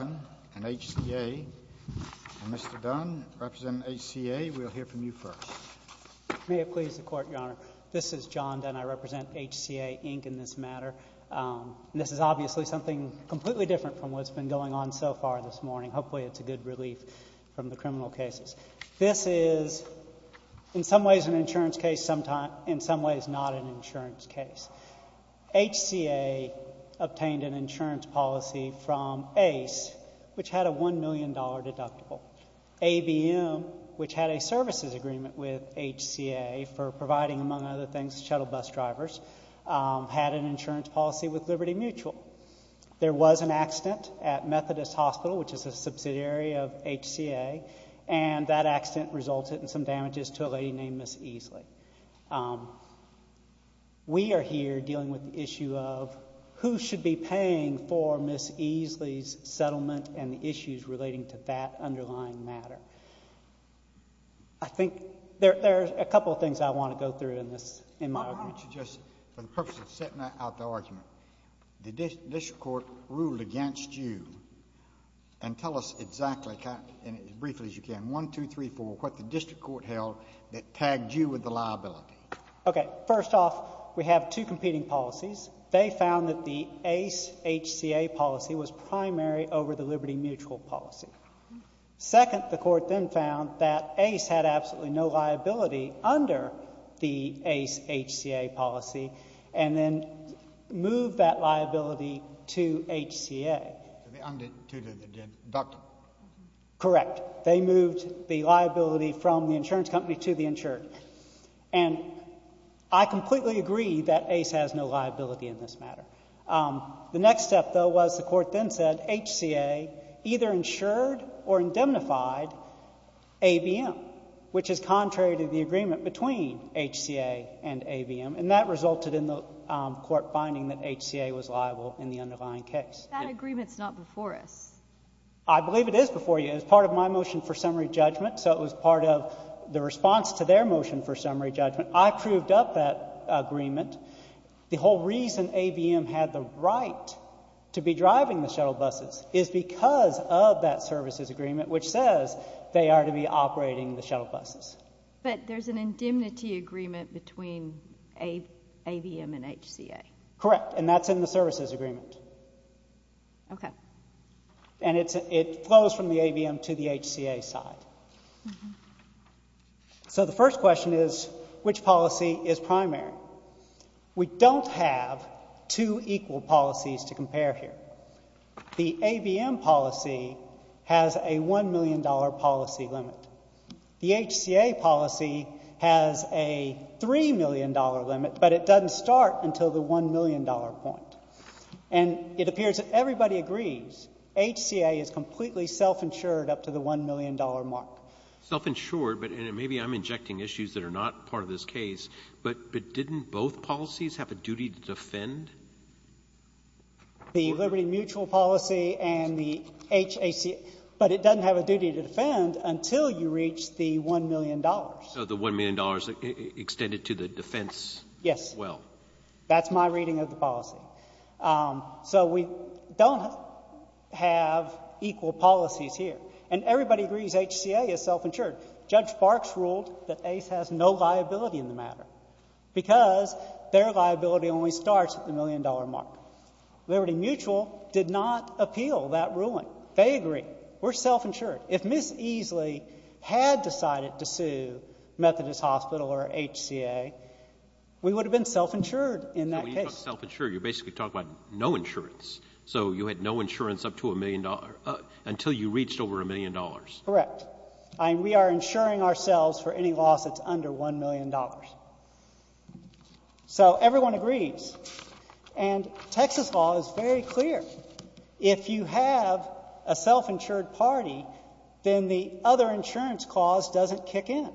and HCA. And Mr. Dunn, representing HCA, we'll hear from you first. May it please the Court, Your Honor. This is John Dunn. I represent HCA, Inc. in this matter. This is obviously something completely different from what's been going on so far this morning. Hopefully it's a good relief from the criminal cases. This is in some ways an insurance case, in some ways not an insurance case. HCA obtained an insurance policy from Ace, which had a $1 million deductible. ABM, which had a services agreement with HCA for providing, among other things, shuttle bus drivers, had an insurance policy with Liberty Mutual. There was an accident at Methodist Hospital, which is a subsidiary of HCA, and that accident resulted in some damages to a lady named Miss Easley. We are here dealing with the issue of who should be paying for Miss Easley's settlement and the issues relating to that underlying matter. I think there are a couple of things I want to go through in my argument. Why don't you just, for the purpose of setting out the argument, the district court ruled against you. And tell us exactly, as briefly as you can, one, two, three, four, what the district court held that tagged you with the liability. Okay. First off, we have two competing policies. They found that the Ace HCA policy was primary over the Liberty Mutual policy. Second, the court then found that Ace had absolutely no liability under the Ace HCA policy and then moved that liability to HCA. To the deductible. Correct. Correct. They moved the liability from the insurance company to the insured. And I completely agree that Ace has no liability in this matter. The next step, though, was the court then said HCA either insured or indemnified ABM, which is contrary to the agreement between HCA and ABM, and that resulted in the court finding that HCA was liable in the underlying case. That agreement is not before us. I believe it is before you. It was part of my motion for summary judgment, so it was part of the response to their motion for summary judgment. I proved up that agreement. The whole reason ABM had the right to be driving the shuttle buses is because of that services agreement, which says they are to be operating the shuttle buses. But there's an indemnity agreement between ABM and HCA. Correct, and that's in the services agreement. Okay. And it flows from the ABM to the HCA side. So the first question is, which policy is primary? We don't have two equal policies to compare here. The ABM policy has a $1 million policy limit. The HCA policy has a $3 million limit, but it doesn't start until the $1 million point. And it appears that everybody agrees HCA is completely self-insured up to the $1 million mark. Self-insured, but maybe I'm injecting issues that are not part of this case. But didn't both policies have a duty to defend? The liberty mutual policy and the HCA, but it doesn't have a duty to defend until you reach the $1 million. The $1 million extended to the defense. Yes. Well. That's my reading of the policy. So we don't have equal policies here. And everybody agrees HCA is self-insured. Judge Barks ruled that Ace has no liability in the matter because their liability only starts at the $1 million mark. Liberty Mutual did not appeal that ruling. They agree. We're self-insured. If Ms. Easley had decided to sue Methodist Hospital or HCA, we would have been self-insured in that case. So when you talk self-insured, you're basically talking about no insurance. So you had no insurance up to $1 million until you reached over $1 million. Correct. We are insuring ourselves for any loss that's under $1 million. So everyone agrees. And Texas law is very clear. If you have a self-insured party, then the other insurance clause doesn't kick in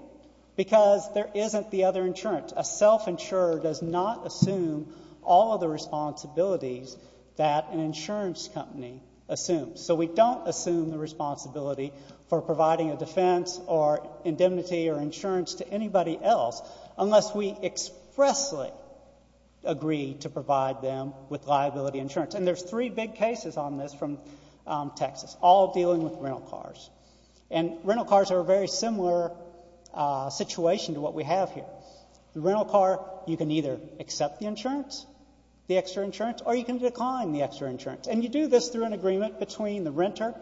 because there isn't the other insurance. A self-insurer does not assume all of the responsibilities that an insurance company assumes. So we don't assume the responsibility for providing a defense or indemnity or insurance to anybody else unless we expressly agree to provide them with liability insurance. And there's three big cases on this from Texas, all dealing with rental cars. And rental cars are a very similar situation to what we have here. The rental car, you can either accept the insurance, the extra insurance, or you can decline the extra insurance. And you do this through an agreement between the renter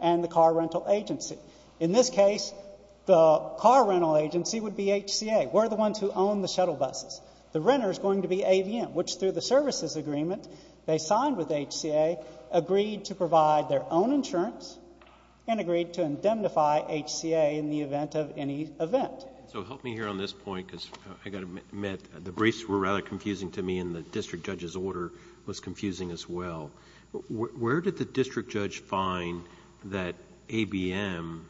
and the car rental agency. In this case, the car rental agency would be HCA. We're the ones who own the shuttle buses. The renter is going to be ABM, which through the services agreement they signed with HCA, agreed to provide their own insurance and agreed to indemnify HCA in the event of any event. So help me here on this point because I've got to admit, the briefs were rather confusing to me and the district judge's order was confusing as well. Where did the district judge find that ABM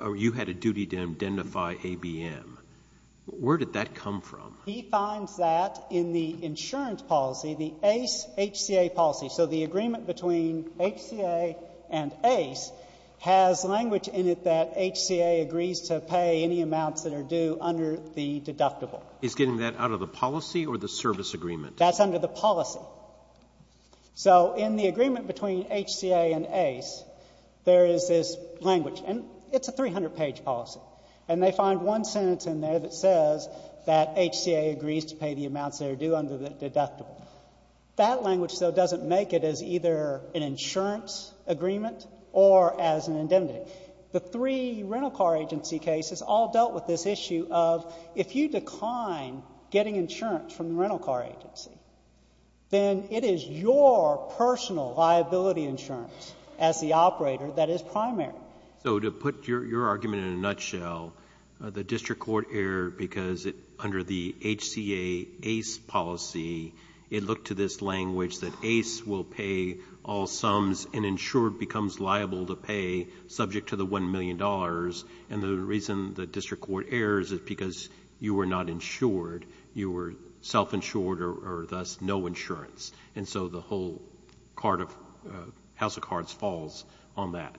or you had a duty to indemnify ABM? Where did that come from? He finds that in the insurance policy, the ACE-HCA policy. So the agreement between HCA and ACE has language in it that HCA agrees to pay any amounts that are due under the deductible. Is getting that out of the policy or the service agreement? That's under the policy. So in the agreement between HCA and ACE, there is this language and it's a 300-page policy and they find one sentence in there that says that HCA agrees to pay the amounts that are due under the deductible. That language, though, doesn't make it as either an insurance agreement or as an indemnity. The three rental car agency cases all dealt with this issue of if you decline getting insurance from the rental car agency, then it is your personal liability insurance as the operator that is primary. So to put your argument in a nutshell, the district court erred because under the HCA-ACE policy, it looked to this language that ACE will pay all sums and insured becomes liable to pay subject to the $1 million. And the reason the district court errors is because you were not insured. You were self-insured or thus no insurance. And so the whole House of Cards falls on that.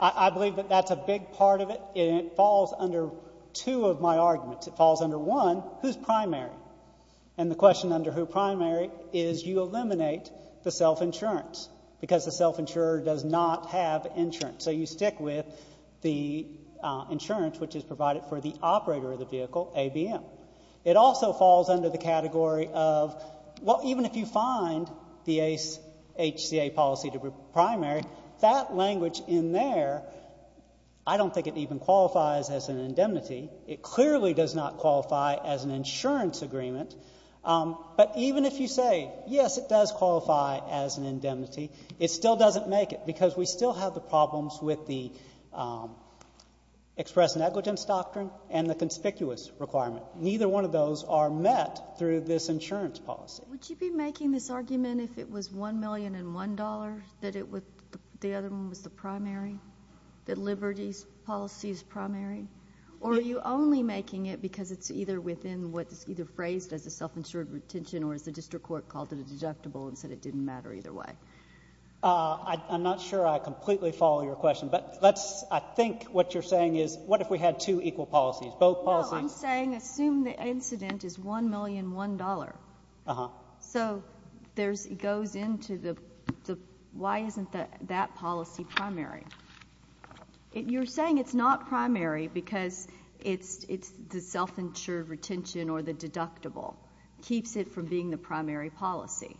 I believe that that's a big part of it. It falls under two of my arguments. It falls under one, who's primary. And the question under who's primary is you eliminate the self-insurance because the self-insurer does not have insurance. So you stick with the insurance which is provided for the operator of the vehicle, ABM. It also falls under the category of, well, even if you find the HCA policy to be primary, that language in there, I don't think it even qualifies as an indemnity. It clearly does not qualify as an insurance agreement. But even if you say, yes, it does qualify as an indemnity, it still doesn't make it because we still have the problems with the express negligence doctrine and the conspicuous requirement. Neither one of those are met through this insurance policy. Would you be making this argument if it was $1 million and $1 that the other one was the primary, that Liberty's policy is primary? Or are you only making it because it's either within what is either phrased as a self-insured retention or as the district court called it a deductible and said it didn't matter either way? I'm not sure I completely follow your question. But I think what you're saying is what if we had two equal policies, both policies? No, I'm saying assume the incident is $1 million, $1. So it goes into the why isn't that policy primary. You're saying it's not primary because it's the self-insured retention or the deductible. It keeps it from being the primary policy.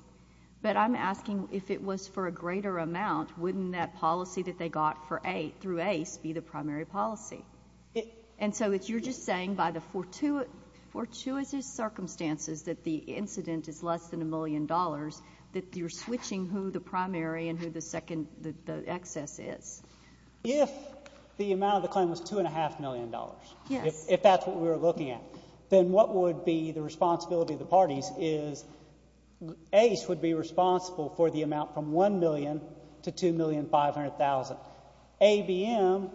But I'm asking if it was for a greater amount, wouldn't that policy that they got through ACE be the primary policy? And so you're just saying by the fortuitous circumstances that the incident is less than $1 million that you're switching who the primary and who the excess is. If the amount of the claim was $2.5 million, if that's what we were looking at, then what would be the responsibility of the parties is ACE would be responsible for the amount from $1 million to $2,500,000. ABM,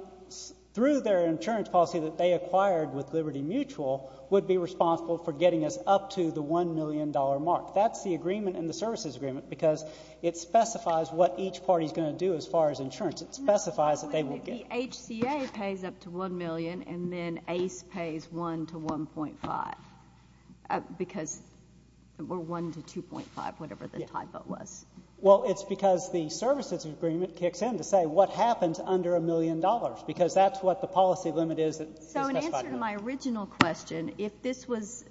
through their insurance policy that they acquired with Liberty Mutual, would be responsible for getting us up to the $1 million mark. That's the agreement in the services agreement because it specifies what each party is going to do as far as insurance. It specifies that they will get. The HCA pays up to $1 million, and then ACE pays $1 to $1.5 because we're $1 to $2.5, whatever the typo was. Well, it's because the services agreement kicks in to say what happens under $1 million because that's what the policy limit is. So in answer to my original question, if this was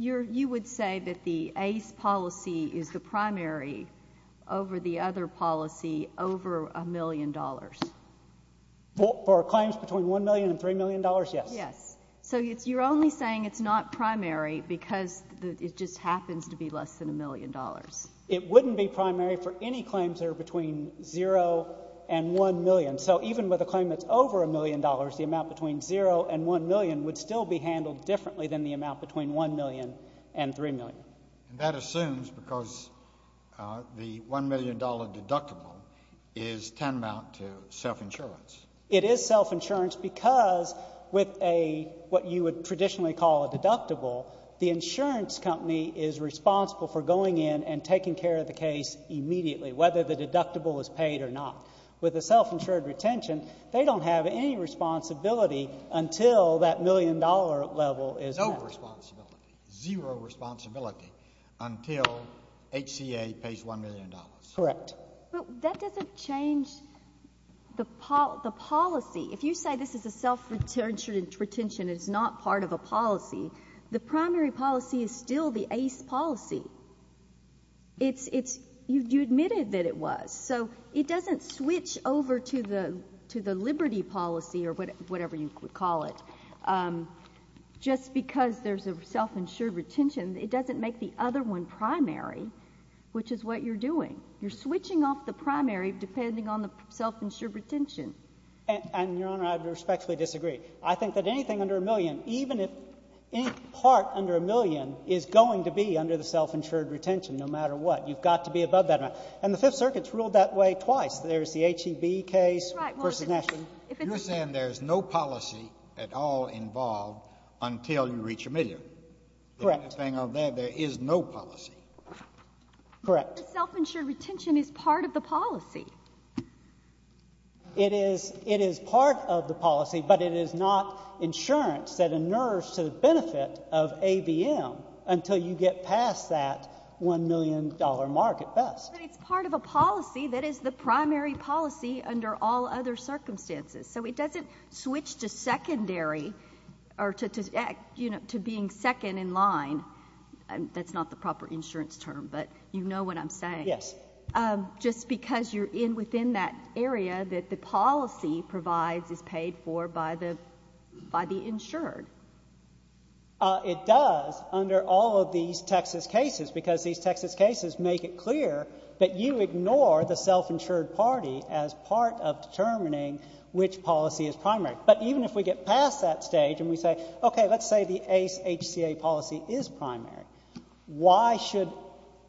you would say that the ACE policy is the For claims between $1 million and $3 million, yes. Yes. So you're only saying it's not primary because it just happens to be less than $1 million. It wouldn't be primary for any claims that are between $0 and $1 million. So even with a claim that's over $1 million, the amount between $0 and $1 million would still be handled differently than the amount between $1 million and $3 million. And that assumes because the $1 million deductible is tantamount to self-insurance. It is self-insurance because with what you would traditionally call a deductible, the insurance company is responsible for going in and taking care of the case immediately, whether the deductible is paid or not. With a self-insured retention, they don't have any responsibility until that $1 million level is met. Zero responsibility. Zero responsibility until HCA pays $1 million. Correct. But that doesn't change the policy. If you say this is a self-insured retention and it's not part of a policy, the primary policy is still the ACE policy. You admitted that it was. So it doesn't switch over to the liberty policy or whatever you would call it just because there's a self-insured retention. It doesn't make the other one primary, which is what you're doing. You're switching off the primary depending on the self-insured retention. And, Your Honor, I would respectfully disagree. I think that anything under $1 million, even if any part under $1 million, is going to be under the self-insured retention no matter what. You've got to be above that amount. And the Fifth Circuit's ruled that way twice. There's the HEB case versus National. You're saying there's no policy at all involved until you reach a million. Correct. The only thing of that, there is no policy. Correct. The self-insured retention is part of the policy. It is part of the policy, but it is not insurance that inures to the benefit of ABM until you get past that $1 million mark at best. But it's part of a policy that is the primary policy under all other circumstances. So it doesn't switch to secondary or to being second in line. That's not the proper insurance term, but you know what I'm saying. Yes. Just because you're within that area that the policy provides is paid for by the insured. It does under all of these Texas cases because these Texas cases make it clear that you ignore the self-insured party as part of determining which policy is primary. But even if we get past that stage and we say, okay, let's say the ACE HCA policy is primary, why should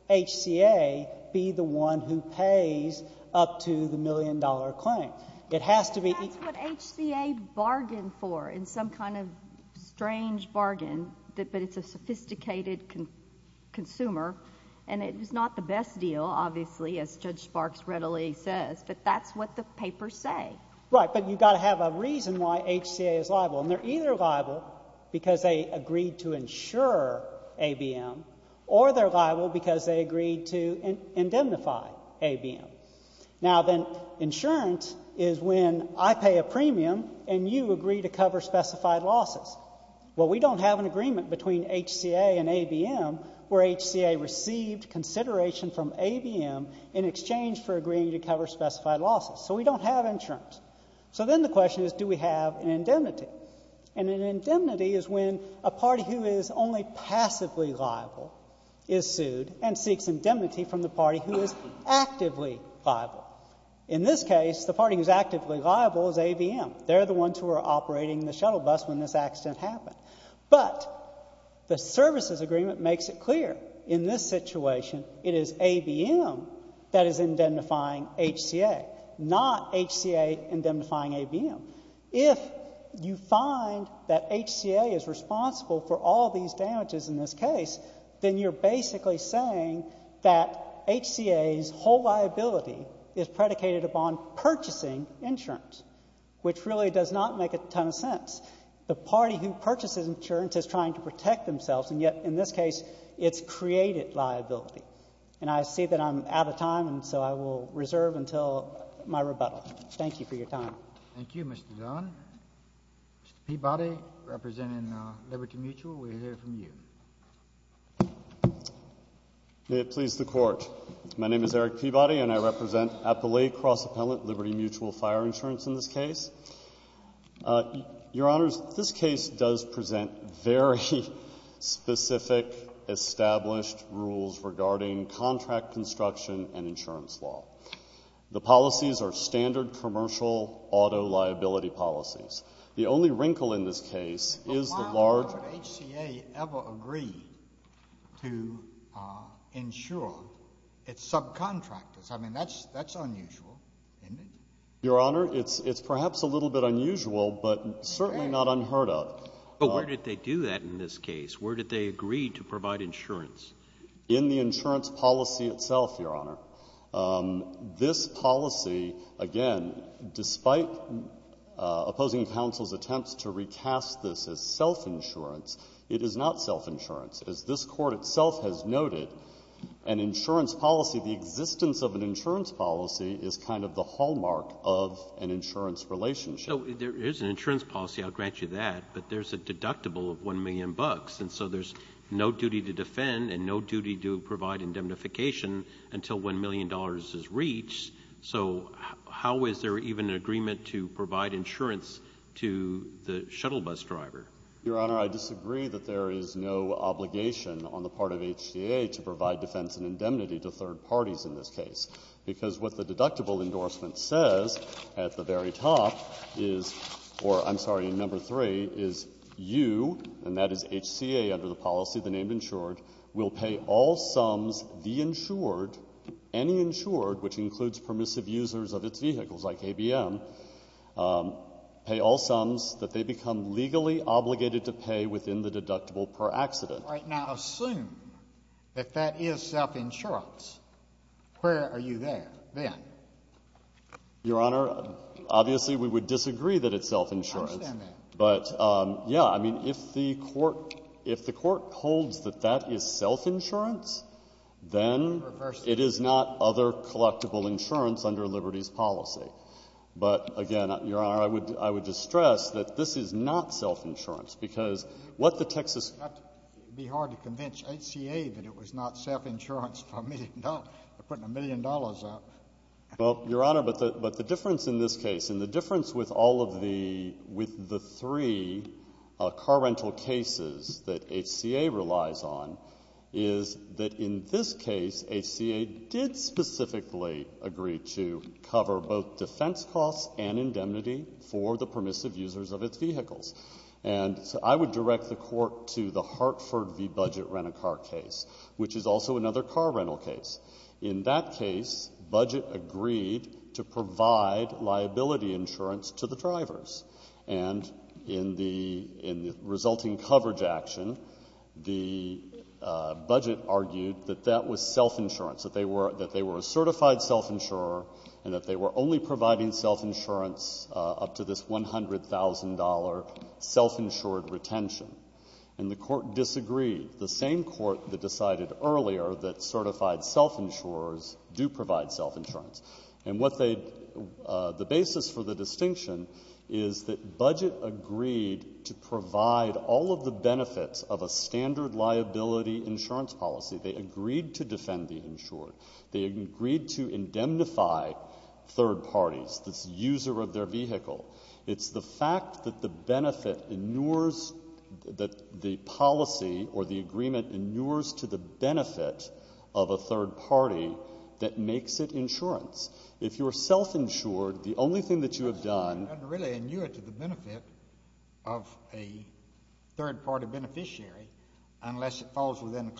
HCA be the one who pays up to the million-dollar claim? It has to be. That's what HCA bargained for in some kind of strange bargain, but it's a sophisticated consumer, and it is not the best deal, obviously, as Judge Sparks readily says, but that's what the papers say. Right, but you've got to have a reason why HCA is liable, and they're either liable because they agreed to insure ABM or they're liable because they agreed to indemnify ABM. Now then, insurance is when I pay a premium and you agree to cover specified losses. Well, we don't have an agreement between HCA and ABM where HCA received consideration from ABM in exchange for agreeing to cover specified losses. So we don't have insurance. So then the question is, do we have an indemnity? And an indemnity is when a party who is only passively liable is sued and seeks indemnity from the party who is actively liable. In this case, the party who is actively liable is ABM. They're the ones who are operating the shuttle bus when this accident happened. But the services agreement makes it clear in this situation it is ABM that is indemnifying HCA, not HCA indemnifying ABM. If you find that HCA is responsible for all these damages in this case, then you're basically saying that HCA's whole liability is predicated upon purchasing insurance, which really does not make a ton of sense. The party who purchases insurance is trying to protect themselves, and yet in this case it's created liability. And I see that I'm out of time, and so I will reserve until my rebuttal. Thank you for your time. Thank you, Mr. Zahn. Mr. Peabody, representing Liberty Mutual, we'll hear from you. May it please the Court. My name is Eric Peabody, and I represent Appalachia Cross Appellant, Liberty Mutual Fire Insurance in this case. Your Honors, this case does present very specific, established rules regarding contract construction and insurance law. The policies are standard commercial auto liability policies. The only wrinkle in this case is the large — But why would HCA ever agree to insure its subcontractors? I mean, that's unusual, isn't it? Your Honor, it's perhaps a little bit unusual, but certainly not unheard of. But where did they do that in this case? Where did they agree to provide insurance? In the insurance policy itself, Your Honor. This policy, again, despite opposing counsel's attempts to recast this as self-insurance, it is not self-insurance. As this Court itself has noted, an insurance policy, the existence of an insurance policy is kind of the hallmark of an insurance relationship. So there is an insurance policy, I'll grant you that, but there's a deductible of 1 million bucks, and so there's no duty to defend and no duty to provide indemnification until 1 million dollars is reached. So how is there even an agreement to provide insurance to the shuttle bus driver? Your Honor, I disagree that there is no obligation on the part of HCA to provide defense and indemnity to third parties in this case, because what the deductible endorsement says at the very top is — or, I'm sorry, number three, is you, and that is HCA under the policy, the name insured, will pay all sums the insured, any insured, which includes permissive users of its vehicles like ABM, pay all sums that they become legally obligated to pay within the deductible per accident. All right. Now, assume that that is self-insurance. Where are you there then? Your Honor, obviously, we would disagree that it's self-insurance. I understand that. But, yeah, I mean, if the Court holds that that is self-insurance, then it is not other collectible insurance under Liberty's policy. But, again, Your Honor, I would just stress that this is not self-insurance, because what the Texas — It would be hard to convince HCA that it was not self-insurance for putting a million dollars out. Well, Your Honor, but the difference in this case, and the difference with all of the three car rental cases that HCA relies on, is that in this case, HCA did specifically agree to cover both defense costs and indemnity for the permissive users of its vehicles. And so I would direct the Court to the Hartford v. Budget Rent-a-Car case, which is also another car rental case. In that case, Budget agreed to provide liability insurance to the drivers. And in the resulting coverage action, the Budget argued that that was self-insurance, that they were a certified self-insurer and that they were only providing self-insurance up to this $100,000 self-insured retention. And the Court disagreed. The same Court that decided earlier that certified self-insurers do provide self-insurance. And what they, the basis for the distinction is that Budget agreed to provide all of the benefits of a standard liability insurance policy. They agreed to defend the insured. They agreed to indemnify third parties, the user of their vehicle. It's the fact that the benefit inures, that the policy or the agreement inures to the benefit of a third-party beneficiary unless it falls within a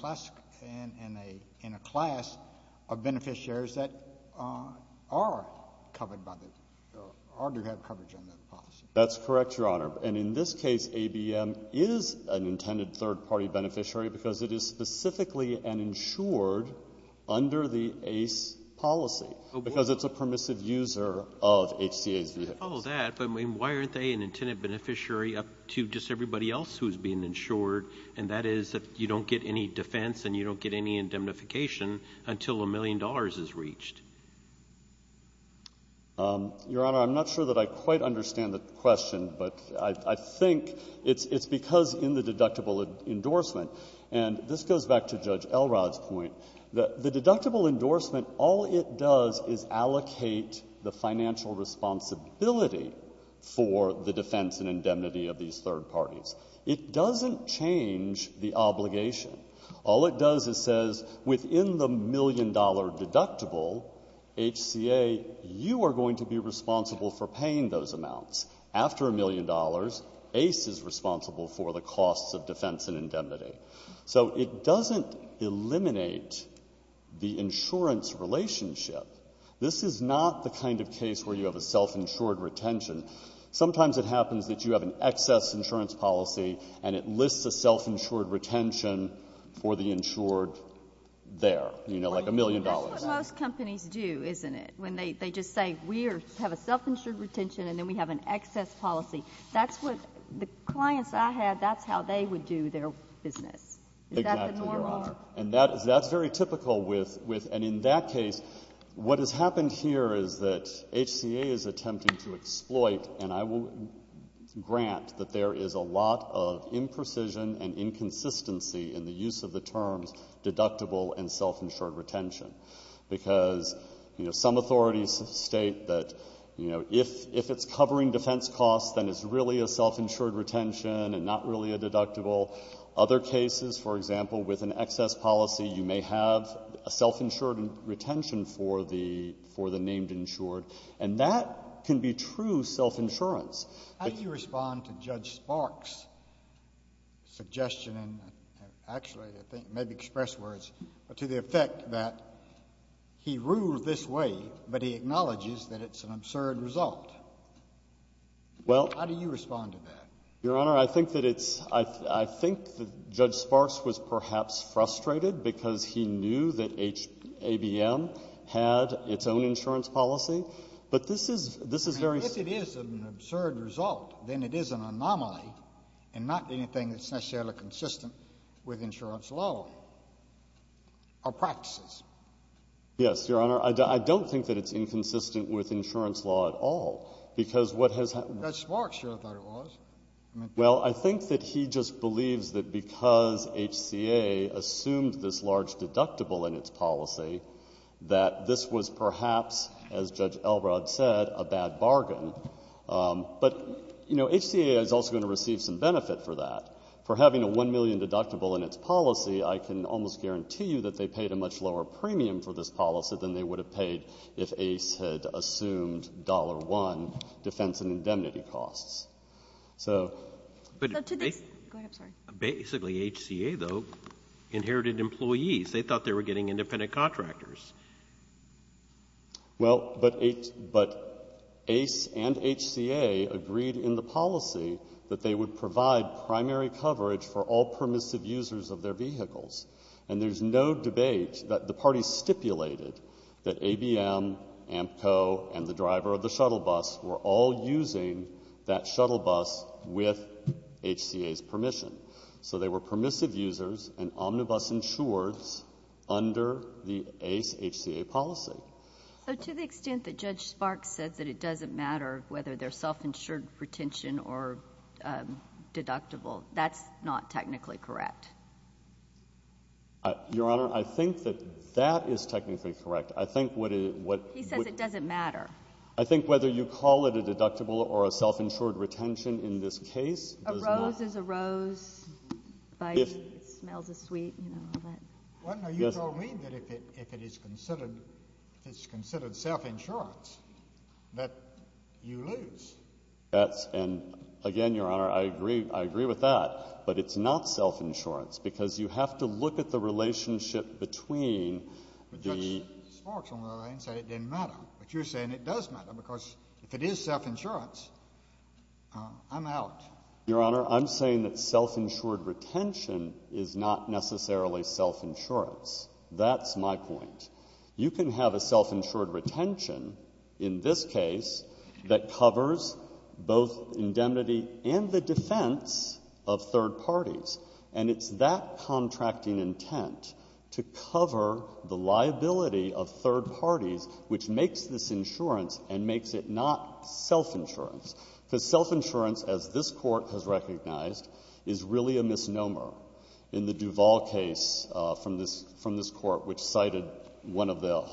class of beneficiaries that are covered by the, or do have coverage under the policy. That's correct, Your Honor. And in this case, ABM is an intended third-party beneficiary because it is specifically an insured under the ACE policy. Because it's a permissive user of HCA's vehicle. I follow that, but I mean, why aren't they an intended beneficiary up to just everybody else who is being insured, and that is if you don't get any defense and you don't get any indemnification until a million dollars is reached? Your Honor, I'm not sure that I quite understand the question, but I think it's because in the deductible endorsement, and this goes back to Judge Elrod's point, the deductible endorsement, all it does is allocate the financial responsibility for the defense and indemnity of these third parties. It doesn't change the obligation. All it does is says, within the million-dollar deductible, HCA, you are going to be responsible for paying those amounts. After a million dollars, ACE is responsible for the costs of defense and indemnity. So it doesn't eliminate the insurance relationship. This is not the kind of case where you have a self-insured retention. Sometimes it happens that you have an excess insurance policy and it lists a self-insured retention for the insured there, you know, like a million dollars. That's what most companies do, isn't it? When they just say, we have a self-insured retention and then we have an excess policy. That's what the clients I had, that's how they would do their business. Is that the normal? Exactly, Your Honor. And that's very typical with — and in that case, what has happened here is that HCA is attempting to exploit, and I will grant that there is a lot of imprecision and inconsistency in the use of the terms deductible and self-insured retention. Because, you know, some authorities state that, you know, if it's covering defense costs, then it's really a self-insured retention and not really a deductible. Other cases, for example, with an excess policy, you may have a self-insured retention for the — for the named insured. And that can be true self-insurance. How do you respond to Judge Sparks' suggestion and actually, I think, maybe express words, to the effect that he rules this way, but he acknowledges that it's an absurd result? Well — How do you respond to that? Your Honor, I think that it's — I think that Judge Sparks was perhaps frustrated because he knew that H — ABM had its own insurance policy. But this is — this is very — I mean, if it is an absurd result, then it is an anomaly and not anything that's necessarily consistent with insurance law or practices. Yes, Your Honor. Your Honor, I don't think that it's inconsistent with insurance law at all, because what has — Judge Sparks sure thought it was. Well, I think that he just believes that because HCA assumed this large deductible in its policy, that this was perhaps, as Judge Elrod said, a bad bargain. But, you know, HCA is also going to receive some benefit for that. For having a $1 million deductible in its policy, I can almost guarantee you that they paid a much lower premium for this policy than they would have paid if ACE had assumed $1 defense and indemnity costs. So — So to this — Go ahead. I'm sorry. Basically, HCA, though, inherited employees. They thought they were getting independent contractors. Well, but ACE and HCA agreed in the policy that they would provide primary coverage for all permissive users of their vehicles. And there's no debate that the parties stipulated that ABM, Amco, and the driver of the shuttle bus were all using that shuttle bus with HCA's permission. So they were permissive users and omnibus insurers under the ACE-HCA policy. So to the extent that Judge Sparks said that it doesn't matter whether they're self-insured retention or deductible, that's not technically correct. Your Honor, I think that that is technically correct. I think what — He says it doesn't matter. I think whether you call it a deductible or a self-insured retention in this case does not — A rose is a rose. It smells sweet, you know, all that. Well, no, you told me that if it is considered self-insurance, that you lose. That's — and again, Your Honor, I agree with that, but it's not self-insurance because you have to look at the relationship between the — But Judge Sparks, on the other hand, said it didn't matter. But you're saying it does matter because if it is self-insurance, I'm out. Your Honor, I'm saying that self-insured retention is not necessarily self-insurance. That's my point. You can have a self-insured retention in this case that covers both indemnity and the defense of third parties, and it's that contracting intent to cover the liability of third parties which makes this insurance and makes it not self-insurance. Because self-insurance, as this Court has recognized, is really a misnomer. In the Duval case from this Court which cited one of the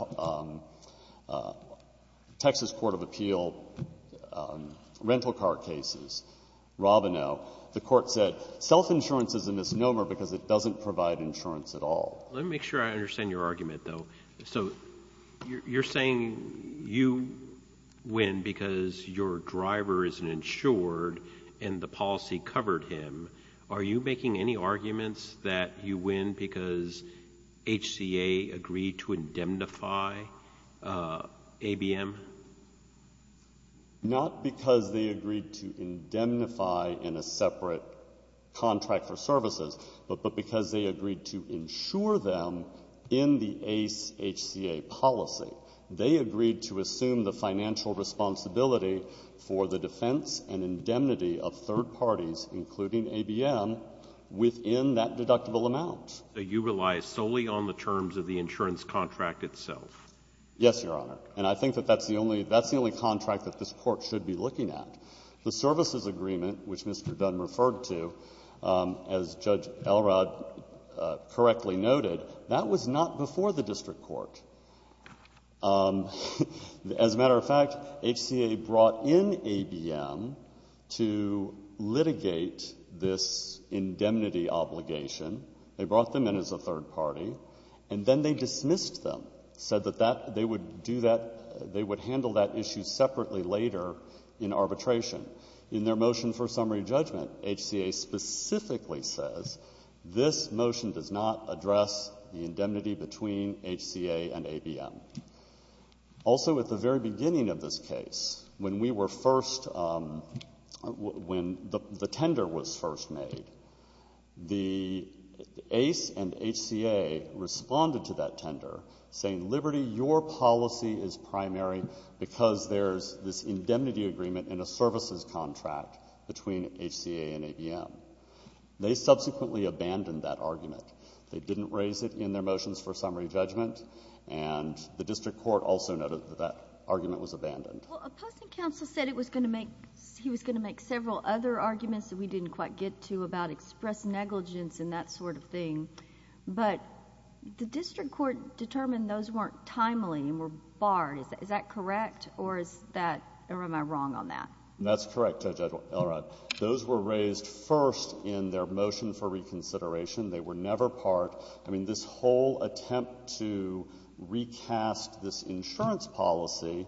Texas Court of Appeal rental car cases, Robineau, the Court said self-insurance is a misnomer because it doesn't provide insurance at all. Let me make sure I understand your argument, though. So you're saying you win because your driver isn't insured and the policy covered him. Are you making any arguments that you win because HCA agreed to indemnify ABM? Not because they agreed to indemnify in a separate contract for services, but because they agreed to insure them in the HCA policy. They agreed to assume the financial responsibility for the defense and indemnity of third parties, including ABM, within that deductible amount. So you rely solely on the terms of the insurance contract itself? Yes, Your Honor. And I think that that's the only contract that this Court should be looking at. The services agreement, which Mr. Dunn referred to, as Judge Elrod correctly noted, that was not before the district court. As a matter of fact, HCA brought in ABM to litigate this indemnity obligation. They brought them in as a third party, and then they dismissed them, said that that they would do that, they would handle that issue separately later in arbitration. In their motion for summary judgment, HCA specifically says, this motion does not address the indemnity between HCA and ABM. Also, at the very beginning of this case, when we were first, when the tender was first made, the ACE and HCA responded to that tender, saying, Liberty, your policy is primary because there's this indemnity agreement in a services contract between HCA and ABM. They subsequently abandoned that argument. They didn't raise it in their motions for summary judgment, and the district court also noted that that argument was abandoned. Well, opposing counsel said it was going to make, he was going to make several other arguments that we didn't quite get to about express negligence and that sort of thing, but the district court determined those weren't timely and were barred. Is that correct, or is that, or am I wrong on that? That's correct, Judge Elrod. Those were raised first in their motion for reconsideration. They were never part, I mean, this whole attempt to recast this insurance policy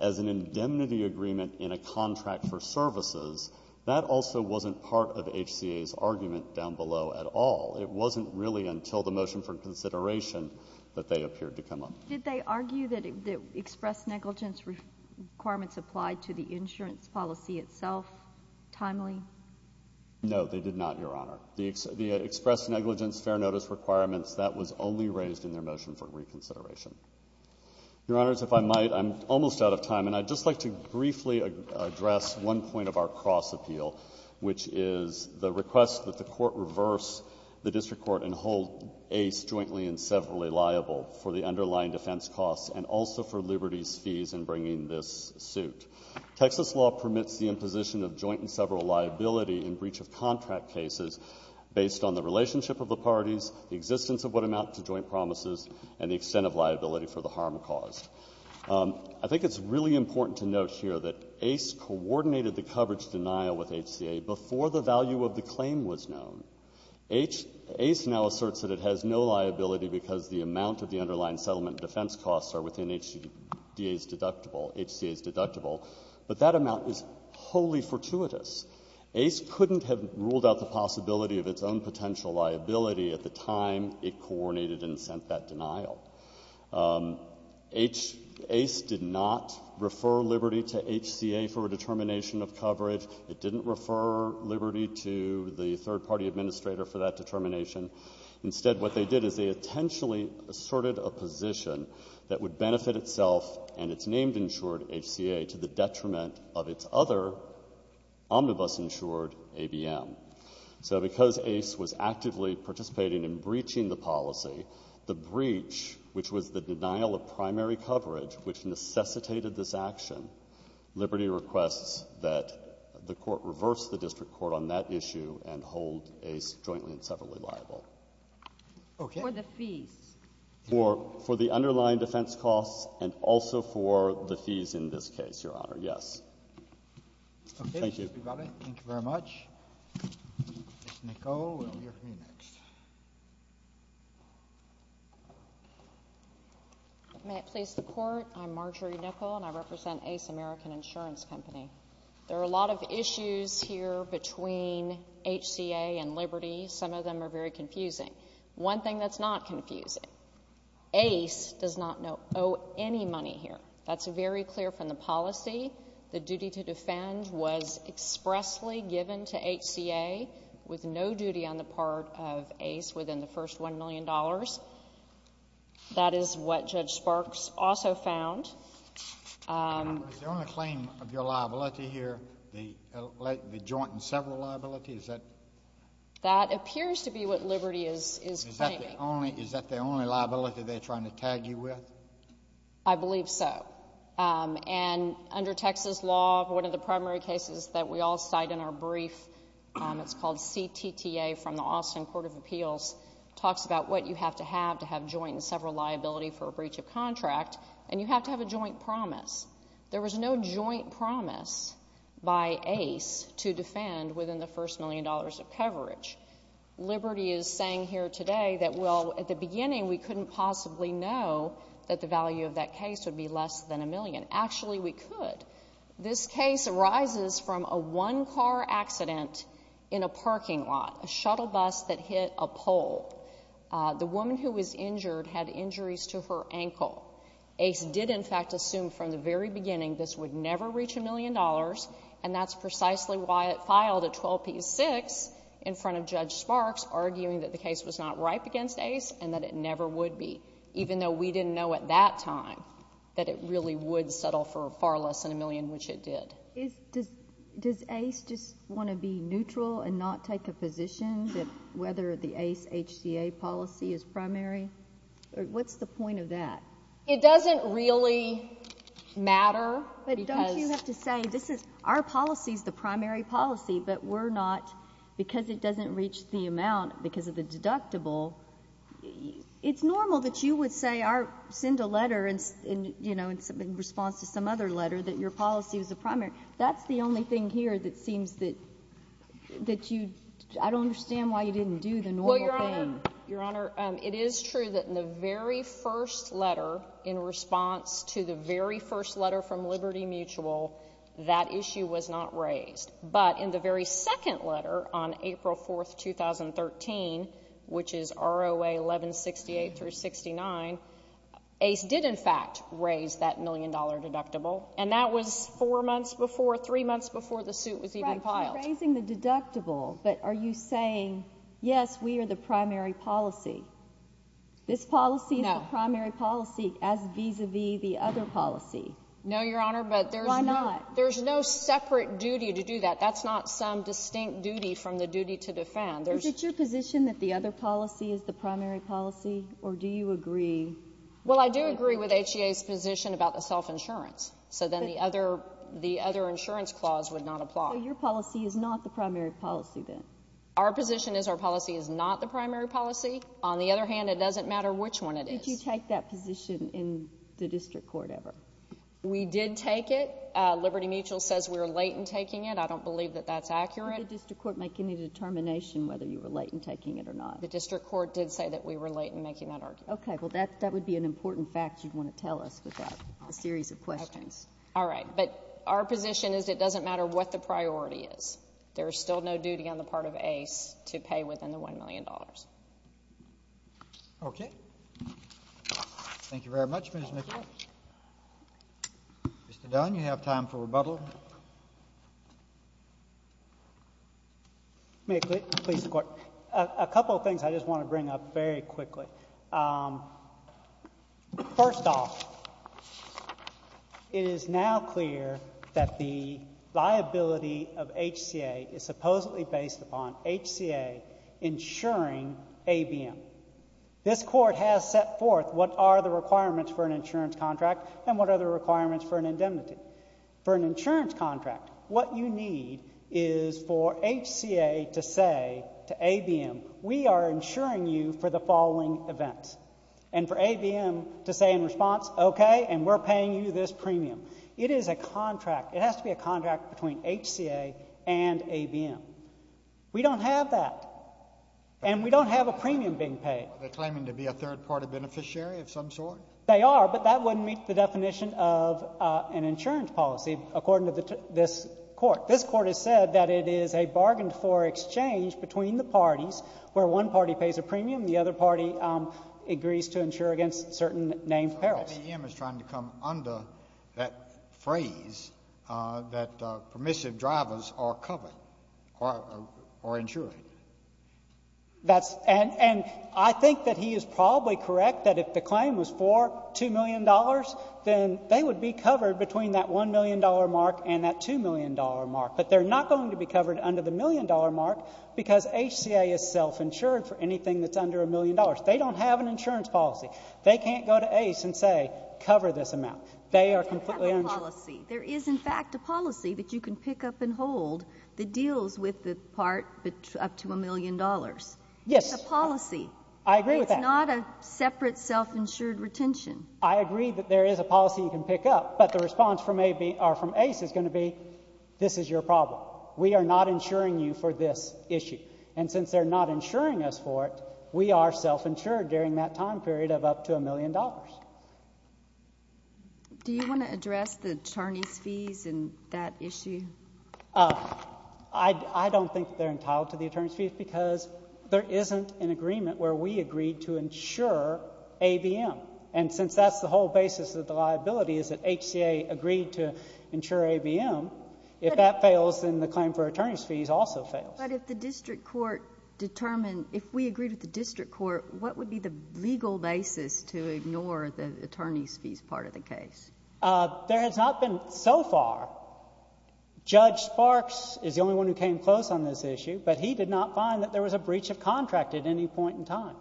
as an indemnity agreement in a contract for services, that also wasn't part of HCA's argument down below at all. It wasn't really until the motion for consideration that they appeared to come up. Did they argue that the express negligence requirements applied to the insurance policy itself timely? No, they did not, Your Honor. The express negligence fair notice requirements, that was only raised in their motion for reconsideration. Your Honors, if I might, I'm almost out of time, and I'd just like to briefly address one point of our cross-appeal, which is the request that the Court reverse the district court and hold Ace jointly and severally liable for the underlying defense costs and also for Liberty's fees in bringing this suit. Texas law permits the imposition of joint and several liability in breach of contract cases based on the relationship of the parties, the existence of what amount to joint promises, and the extent of liability for the harm caused. I think it's really important to note here that Ace coordinated the coverage denial with HCA before the value of the claim was known. Ace now asserts that it has no liability because the amount of the underlying settlement defense costs are within HCA's deductible, but that amount is wholly fortuitous. Ace couldn't have ruled out the possibility of its own potential liability at the time it coordinated and sent that denial. Ace did not refer Liberty to HCA for a determination of coverage. It didn't refer Liberty to the third-party administrator for that determination. Instead, what they did is they intentionally asserted a position that would benefit itself and its named-insured HCA to the detriment of its other omnibus-insured ABM. So because Ace was actively participating in breaching the policy, the breach, which was the denial of primary coverage, which necessitated this action, Liberty requests that the Court reverse the district court on that issue and hold Ace jointly and separately liable. For the fees? For the underlying defense costs and also for the fees in this case, Your Honor, yes. Thank you. Thank you, everybody. Thank you very much. Ms. Nichol, we'll hear from you next. May it please the Court, I'm Marjorie Nichol, and I represent Ace American Insurance Company. There are a lot of issues here between HCA and Liberty. Some of them are very confusing. One thing that's not confusing, Ace does not owe any money here. That's very clear from the policy. The duty to defend was expressly given to HCA with no duty on the part of Ace within the first $1 million. That is what Judge Sparks also found. Is the only claim of your liability here the joint and several liabilities? That appears to be what Liberty is claiming. Is that the only liability they're trying to tag you with? I believe so. Under Texas law, one of the primary cases that we all cite in our brief, it's called CTTA from the Austin Court of Appeals, talks about what you have to have to have joint and several liability for a breach of contract, and you have to have a joint promise. There was no joint promise by Ace to defend within the first $1 million of coverage. Liberty is saying here today that, well, at the beginning, we couldn't possibly know that the value of that case would be less than $1 million. Actually, we could. This case arises from a one-car accident in a parking lot, a shuttle bus that hit a pole. The woman who was injured had injuries to her ankle. Ace did, in fact, assume from the very beginning this would never reach $1 million, and that's precisely why it filed a 12p6 in front of Judge Sparks, arguing that the case was not ripe against Ace and that it never would be, even though we didn't know at that time that it really would settle for far less than $1 million, which it did. Does Ace just want to be neutral and not take a position that whether the Ace HCA policy is primary? What's the point of that? It doesn't really matter because... But don't you have to say, this is, our policy is the primary policy, but we're not, because it doesn't reach the amount because of the deductible. It's normal that you would send a letter in response to some other letter that your policy was the primary. That's the only thing here that seems that you... I don't understand why you didn't do the normal thing. Well, Your Honor, it is true that in the very first letter in response to the very first letter from Liberty Mutual, that issue was not raised. But in the very second letter on April 4, 2013, which is ROA 1168-69, Ace did, in fact, raise that million-dollar deductible, and that was four months before, three months before the suit was even filed. Right, you're raising the deductible, but are you saying, yes, we are the primary policy? This policy is the primary policy as vis-à-vis the other policy. No, Your Honor, but there's no... Why not? That's not some distinct duty from the duty to defend. Is it your position that the other policy is the primary policy, or do you agree... Well, I do agree with HCA's position about the self-insurance, so then the other insurance clause would not apply. So your policy is not the primary policy, then? Our position is our policy is not the primary policy. On the other hand, it doesn't matter which one it is. Did you take that position in the district court ever? We did take it. Liberty Mutual says we were late in taking it. I don't believe that that's accurate. Did the district court make any determination whether you were late in taking it or not? The district court did say that we were late in making that argument. Okay. Well, that would be an important fact you'd want to tell us without a series of questions. All right. But our position is it doesn't matter what the priority is. There is still no duty on the part of ACE to pay within the $1 million. Okay. Thank you very much, Ms. McGill. Thank you. Mr. Dunn, you have time for rebuttal. May it please the Court? A couple of things I just want to bring up very quickly. First off, it is now clear that the liability of HCA is supposedly based upon HCA insuring ABM. This Court has set forth what are the requirements for an insurance contract and what are the requirements for an indemnity. For an insurance contract, what you need is for HCA to say to ABM, we are insuring you for the following events, and for ABM to say in response, okay, and we're paying you this premium. It is a contract. It has to be a contract between HCA and ABM. We don't have that. And we don't have a premium being paid. Are they claiming to be a third-party beneficiary of some sort? They are, but that wouldn't meet the definition of an insurance policy, according to this Court. This Court has said that it is a bargained-for exchange between the parties where one party pays a premium, and the other party agrees to insure against certain named perils. But ABM is trying to come under that phrase that permissive drivers are covered or insured. And I think that he is probably correct that if the claim was for $2 million, then they would be covered between that $1 million mark and that $2 million mark. But they're not going to be covered under the $1 million mark because HCA is self-insured for anything that's under $1 million. They don't have an insurance policy. They can't go to Ace and say, cover this amount. They are completely uninsured. They don't have a policy. There is, in fact, a policy that you can pick up and hold that deals with the part up to $1 million. Yes. It's a policy. I agree with that. It's not a separate self-insured retention. I agree that there is a policy you can pick up, but the response from Ace is going to be, this is your problem. We are not insuring you for this issue. And since they're not insuring us for it, we are self-insured during that time period of up to $1 million. Do you want to address the attorney's fees in that issue? I don't think they're entitled to the attorney's fees because there isn't an agreement where we agreed to insure ABM. And since that's the whole basis of the liability is that HCA agreed to insure ABM, if that fails, then the claim for attorney's fees also fails. But if the district court determined, if we agreed with the district court, what would be the legal basis to ignore the attorney's fees part of the case? There has not been so far. Judge Sparks is the only one who came close on this issue, but he did not find that there was a breach of contract at any point in time.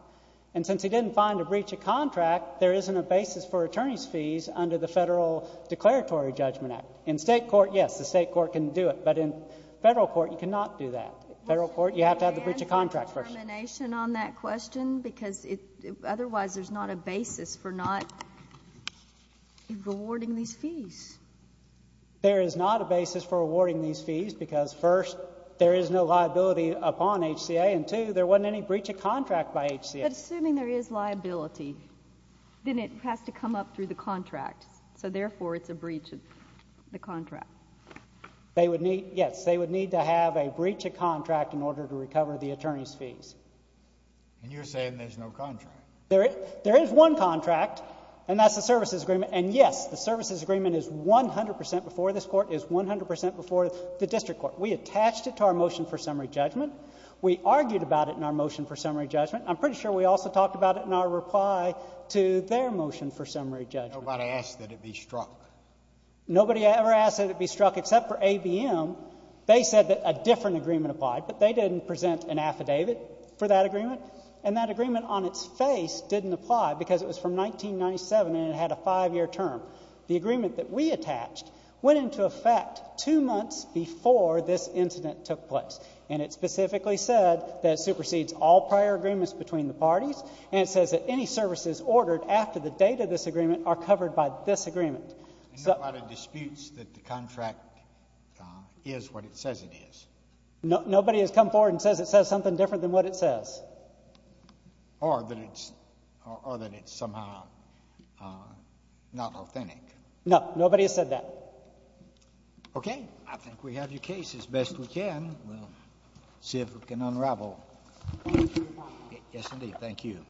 And since he didn't find a breach of contract, there isn't a basis for attorney's fees under the Federal Declaratory Judgment Act. In State court, yes, the State court can do it. But in Federal court, you cannot do that. Federal court, you have to have the breach of contract first. Can you answer the determination on that question? Because otherwise there's not a basis for not awarding these fees. There is not a basis for awarding these fees because, first, there is no liability upon HCA, and, two, there wasn't any breach of contract by HCA. But assuming there is liability, then it has to come up through the contract. So, therefore, it's a breach of the contract. Yes, they would need to have a breach of contract in order to recover the attorney's fees. And you're saying there's no contract. There is one contract, and that's the services agreement. And, yes, the services agreement is 100% before this court, is 100% before the district court. We attached it to our motion for summary judgment. We argued about it in our motion for summary judgment. I'm pretty sure we also talked about it in our reply to their motion for summary judgment. Nobody asked that it be struck. Nobody ever asked that it be struck except for ABM. They said that a different agreement applied, but they didn't present an affidavit for that agreement, and that agreement on its face didn't apply because it was from 1997 and it had a five-year term. The agreement that we attached went into effect two months before this incident took place, and it specifically said that it supersedes all prior agreements between the parties, and it says that any services ordered after the date of this agreement are covered by this agreement. There are a lot of disputes that the contract is what it says it is. Nobody has come forward and says it says something different than what it says. Or that it's somehow not authentic. No, nobody has said that. Okay. I think we have your case as best we can. We'll see if we can unravel. Yes, indeed. Thank you.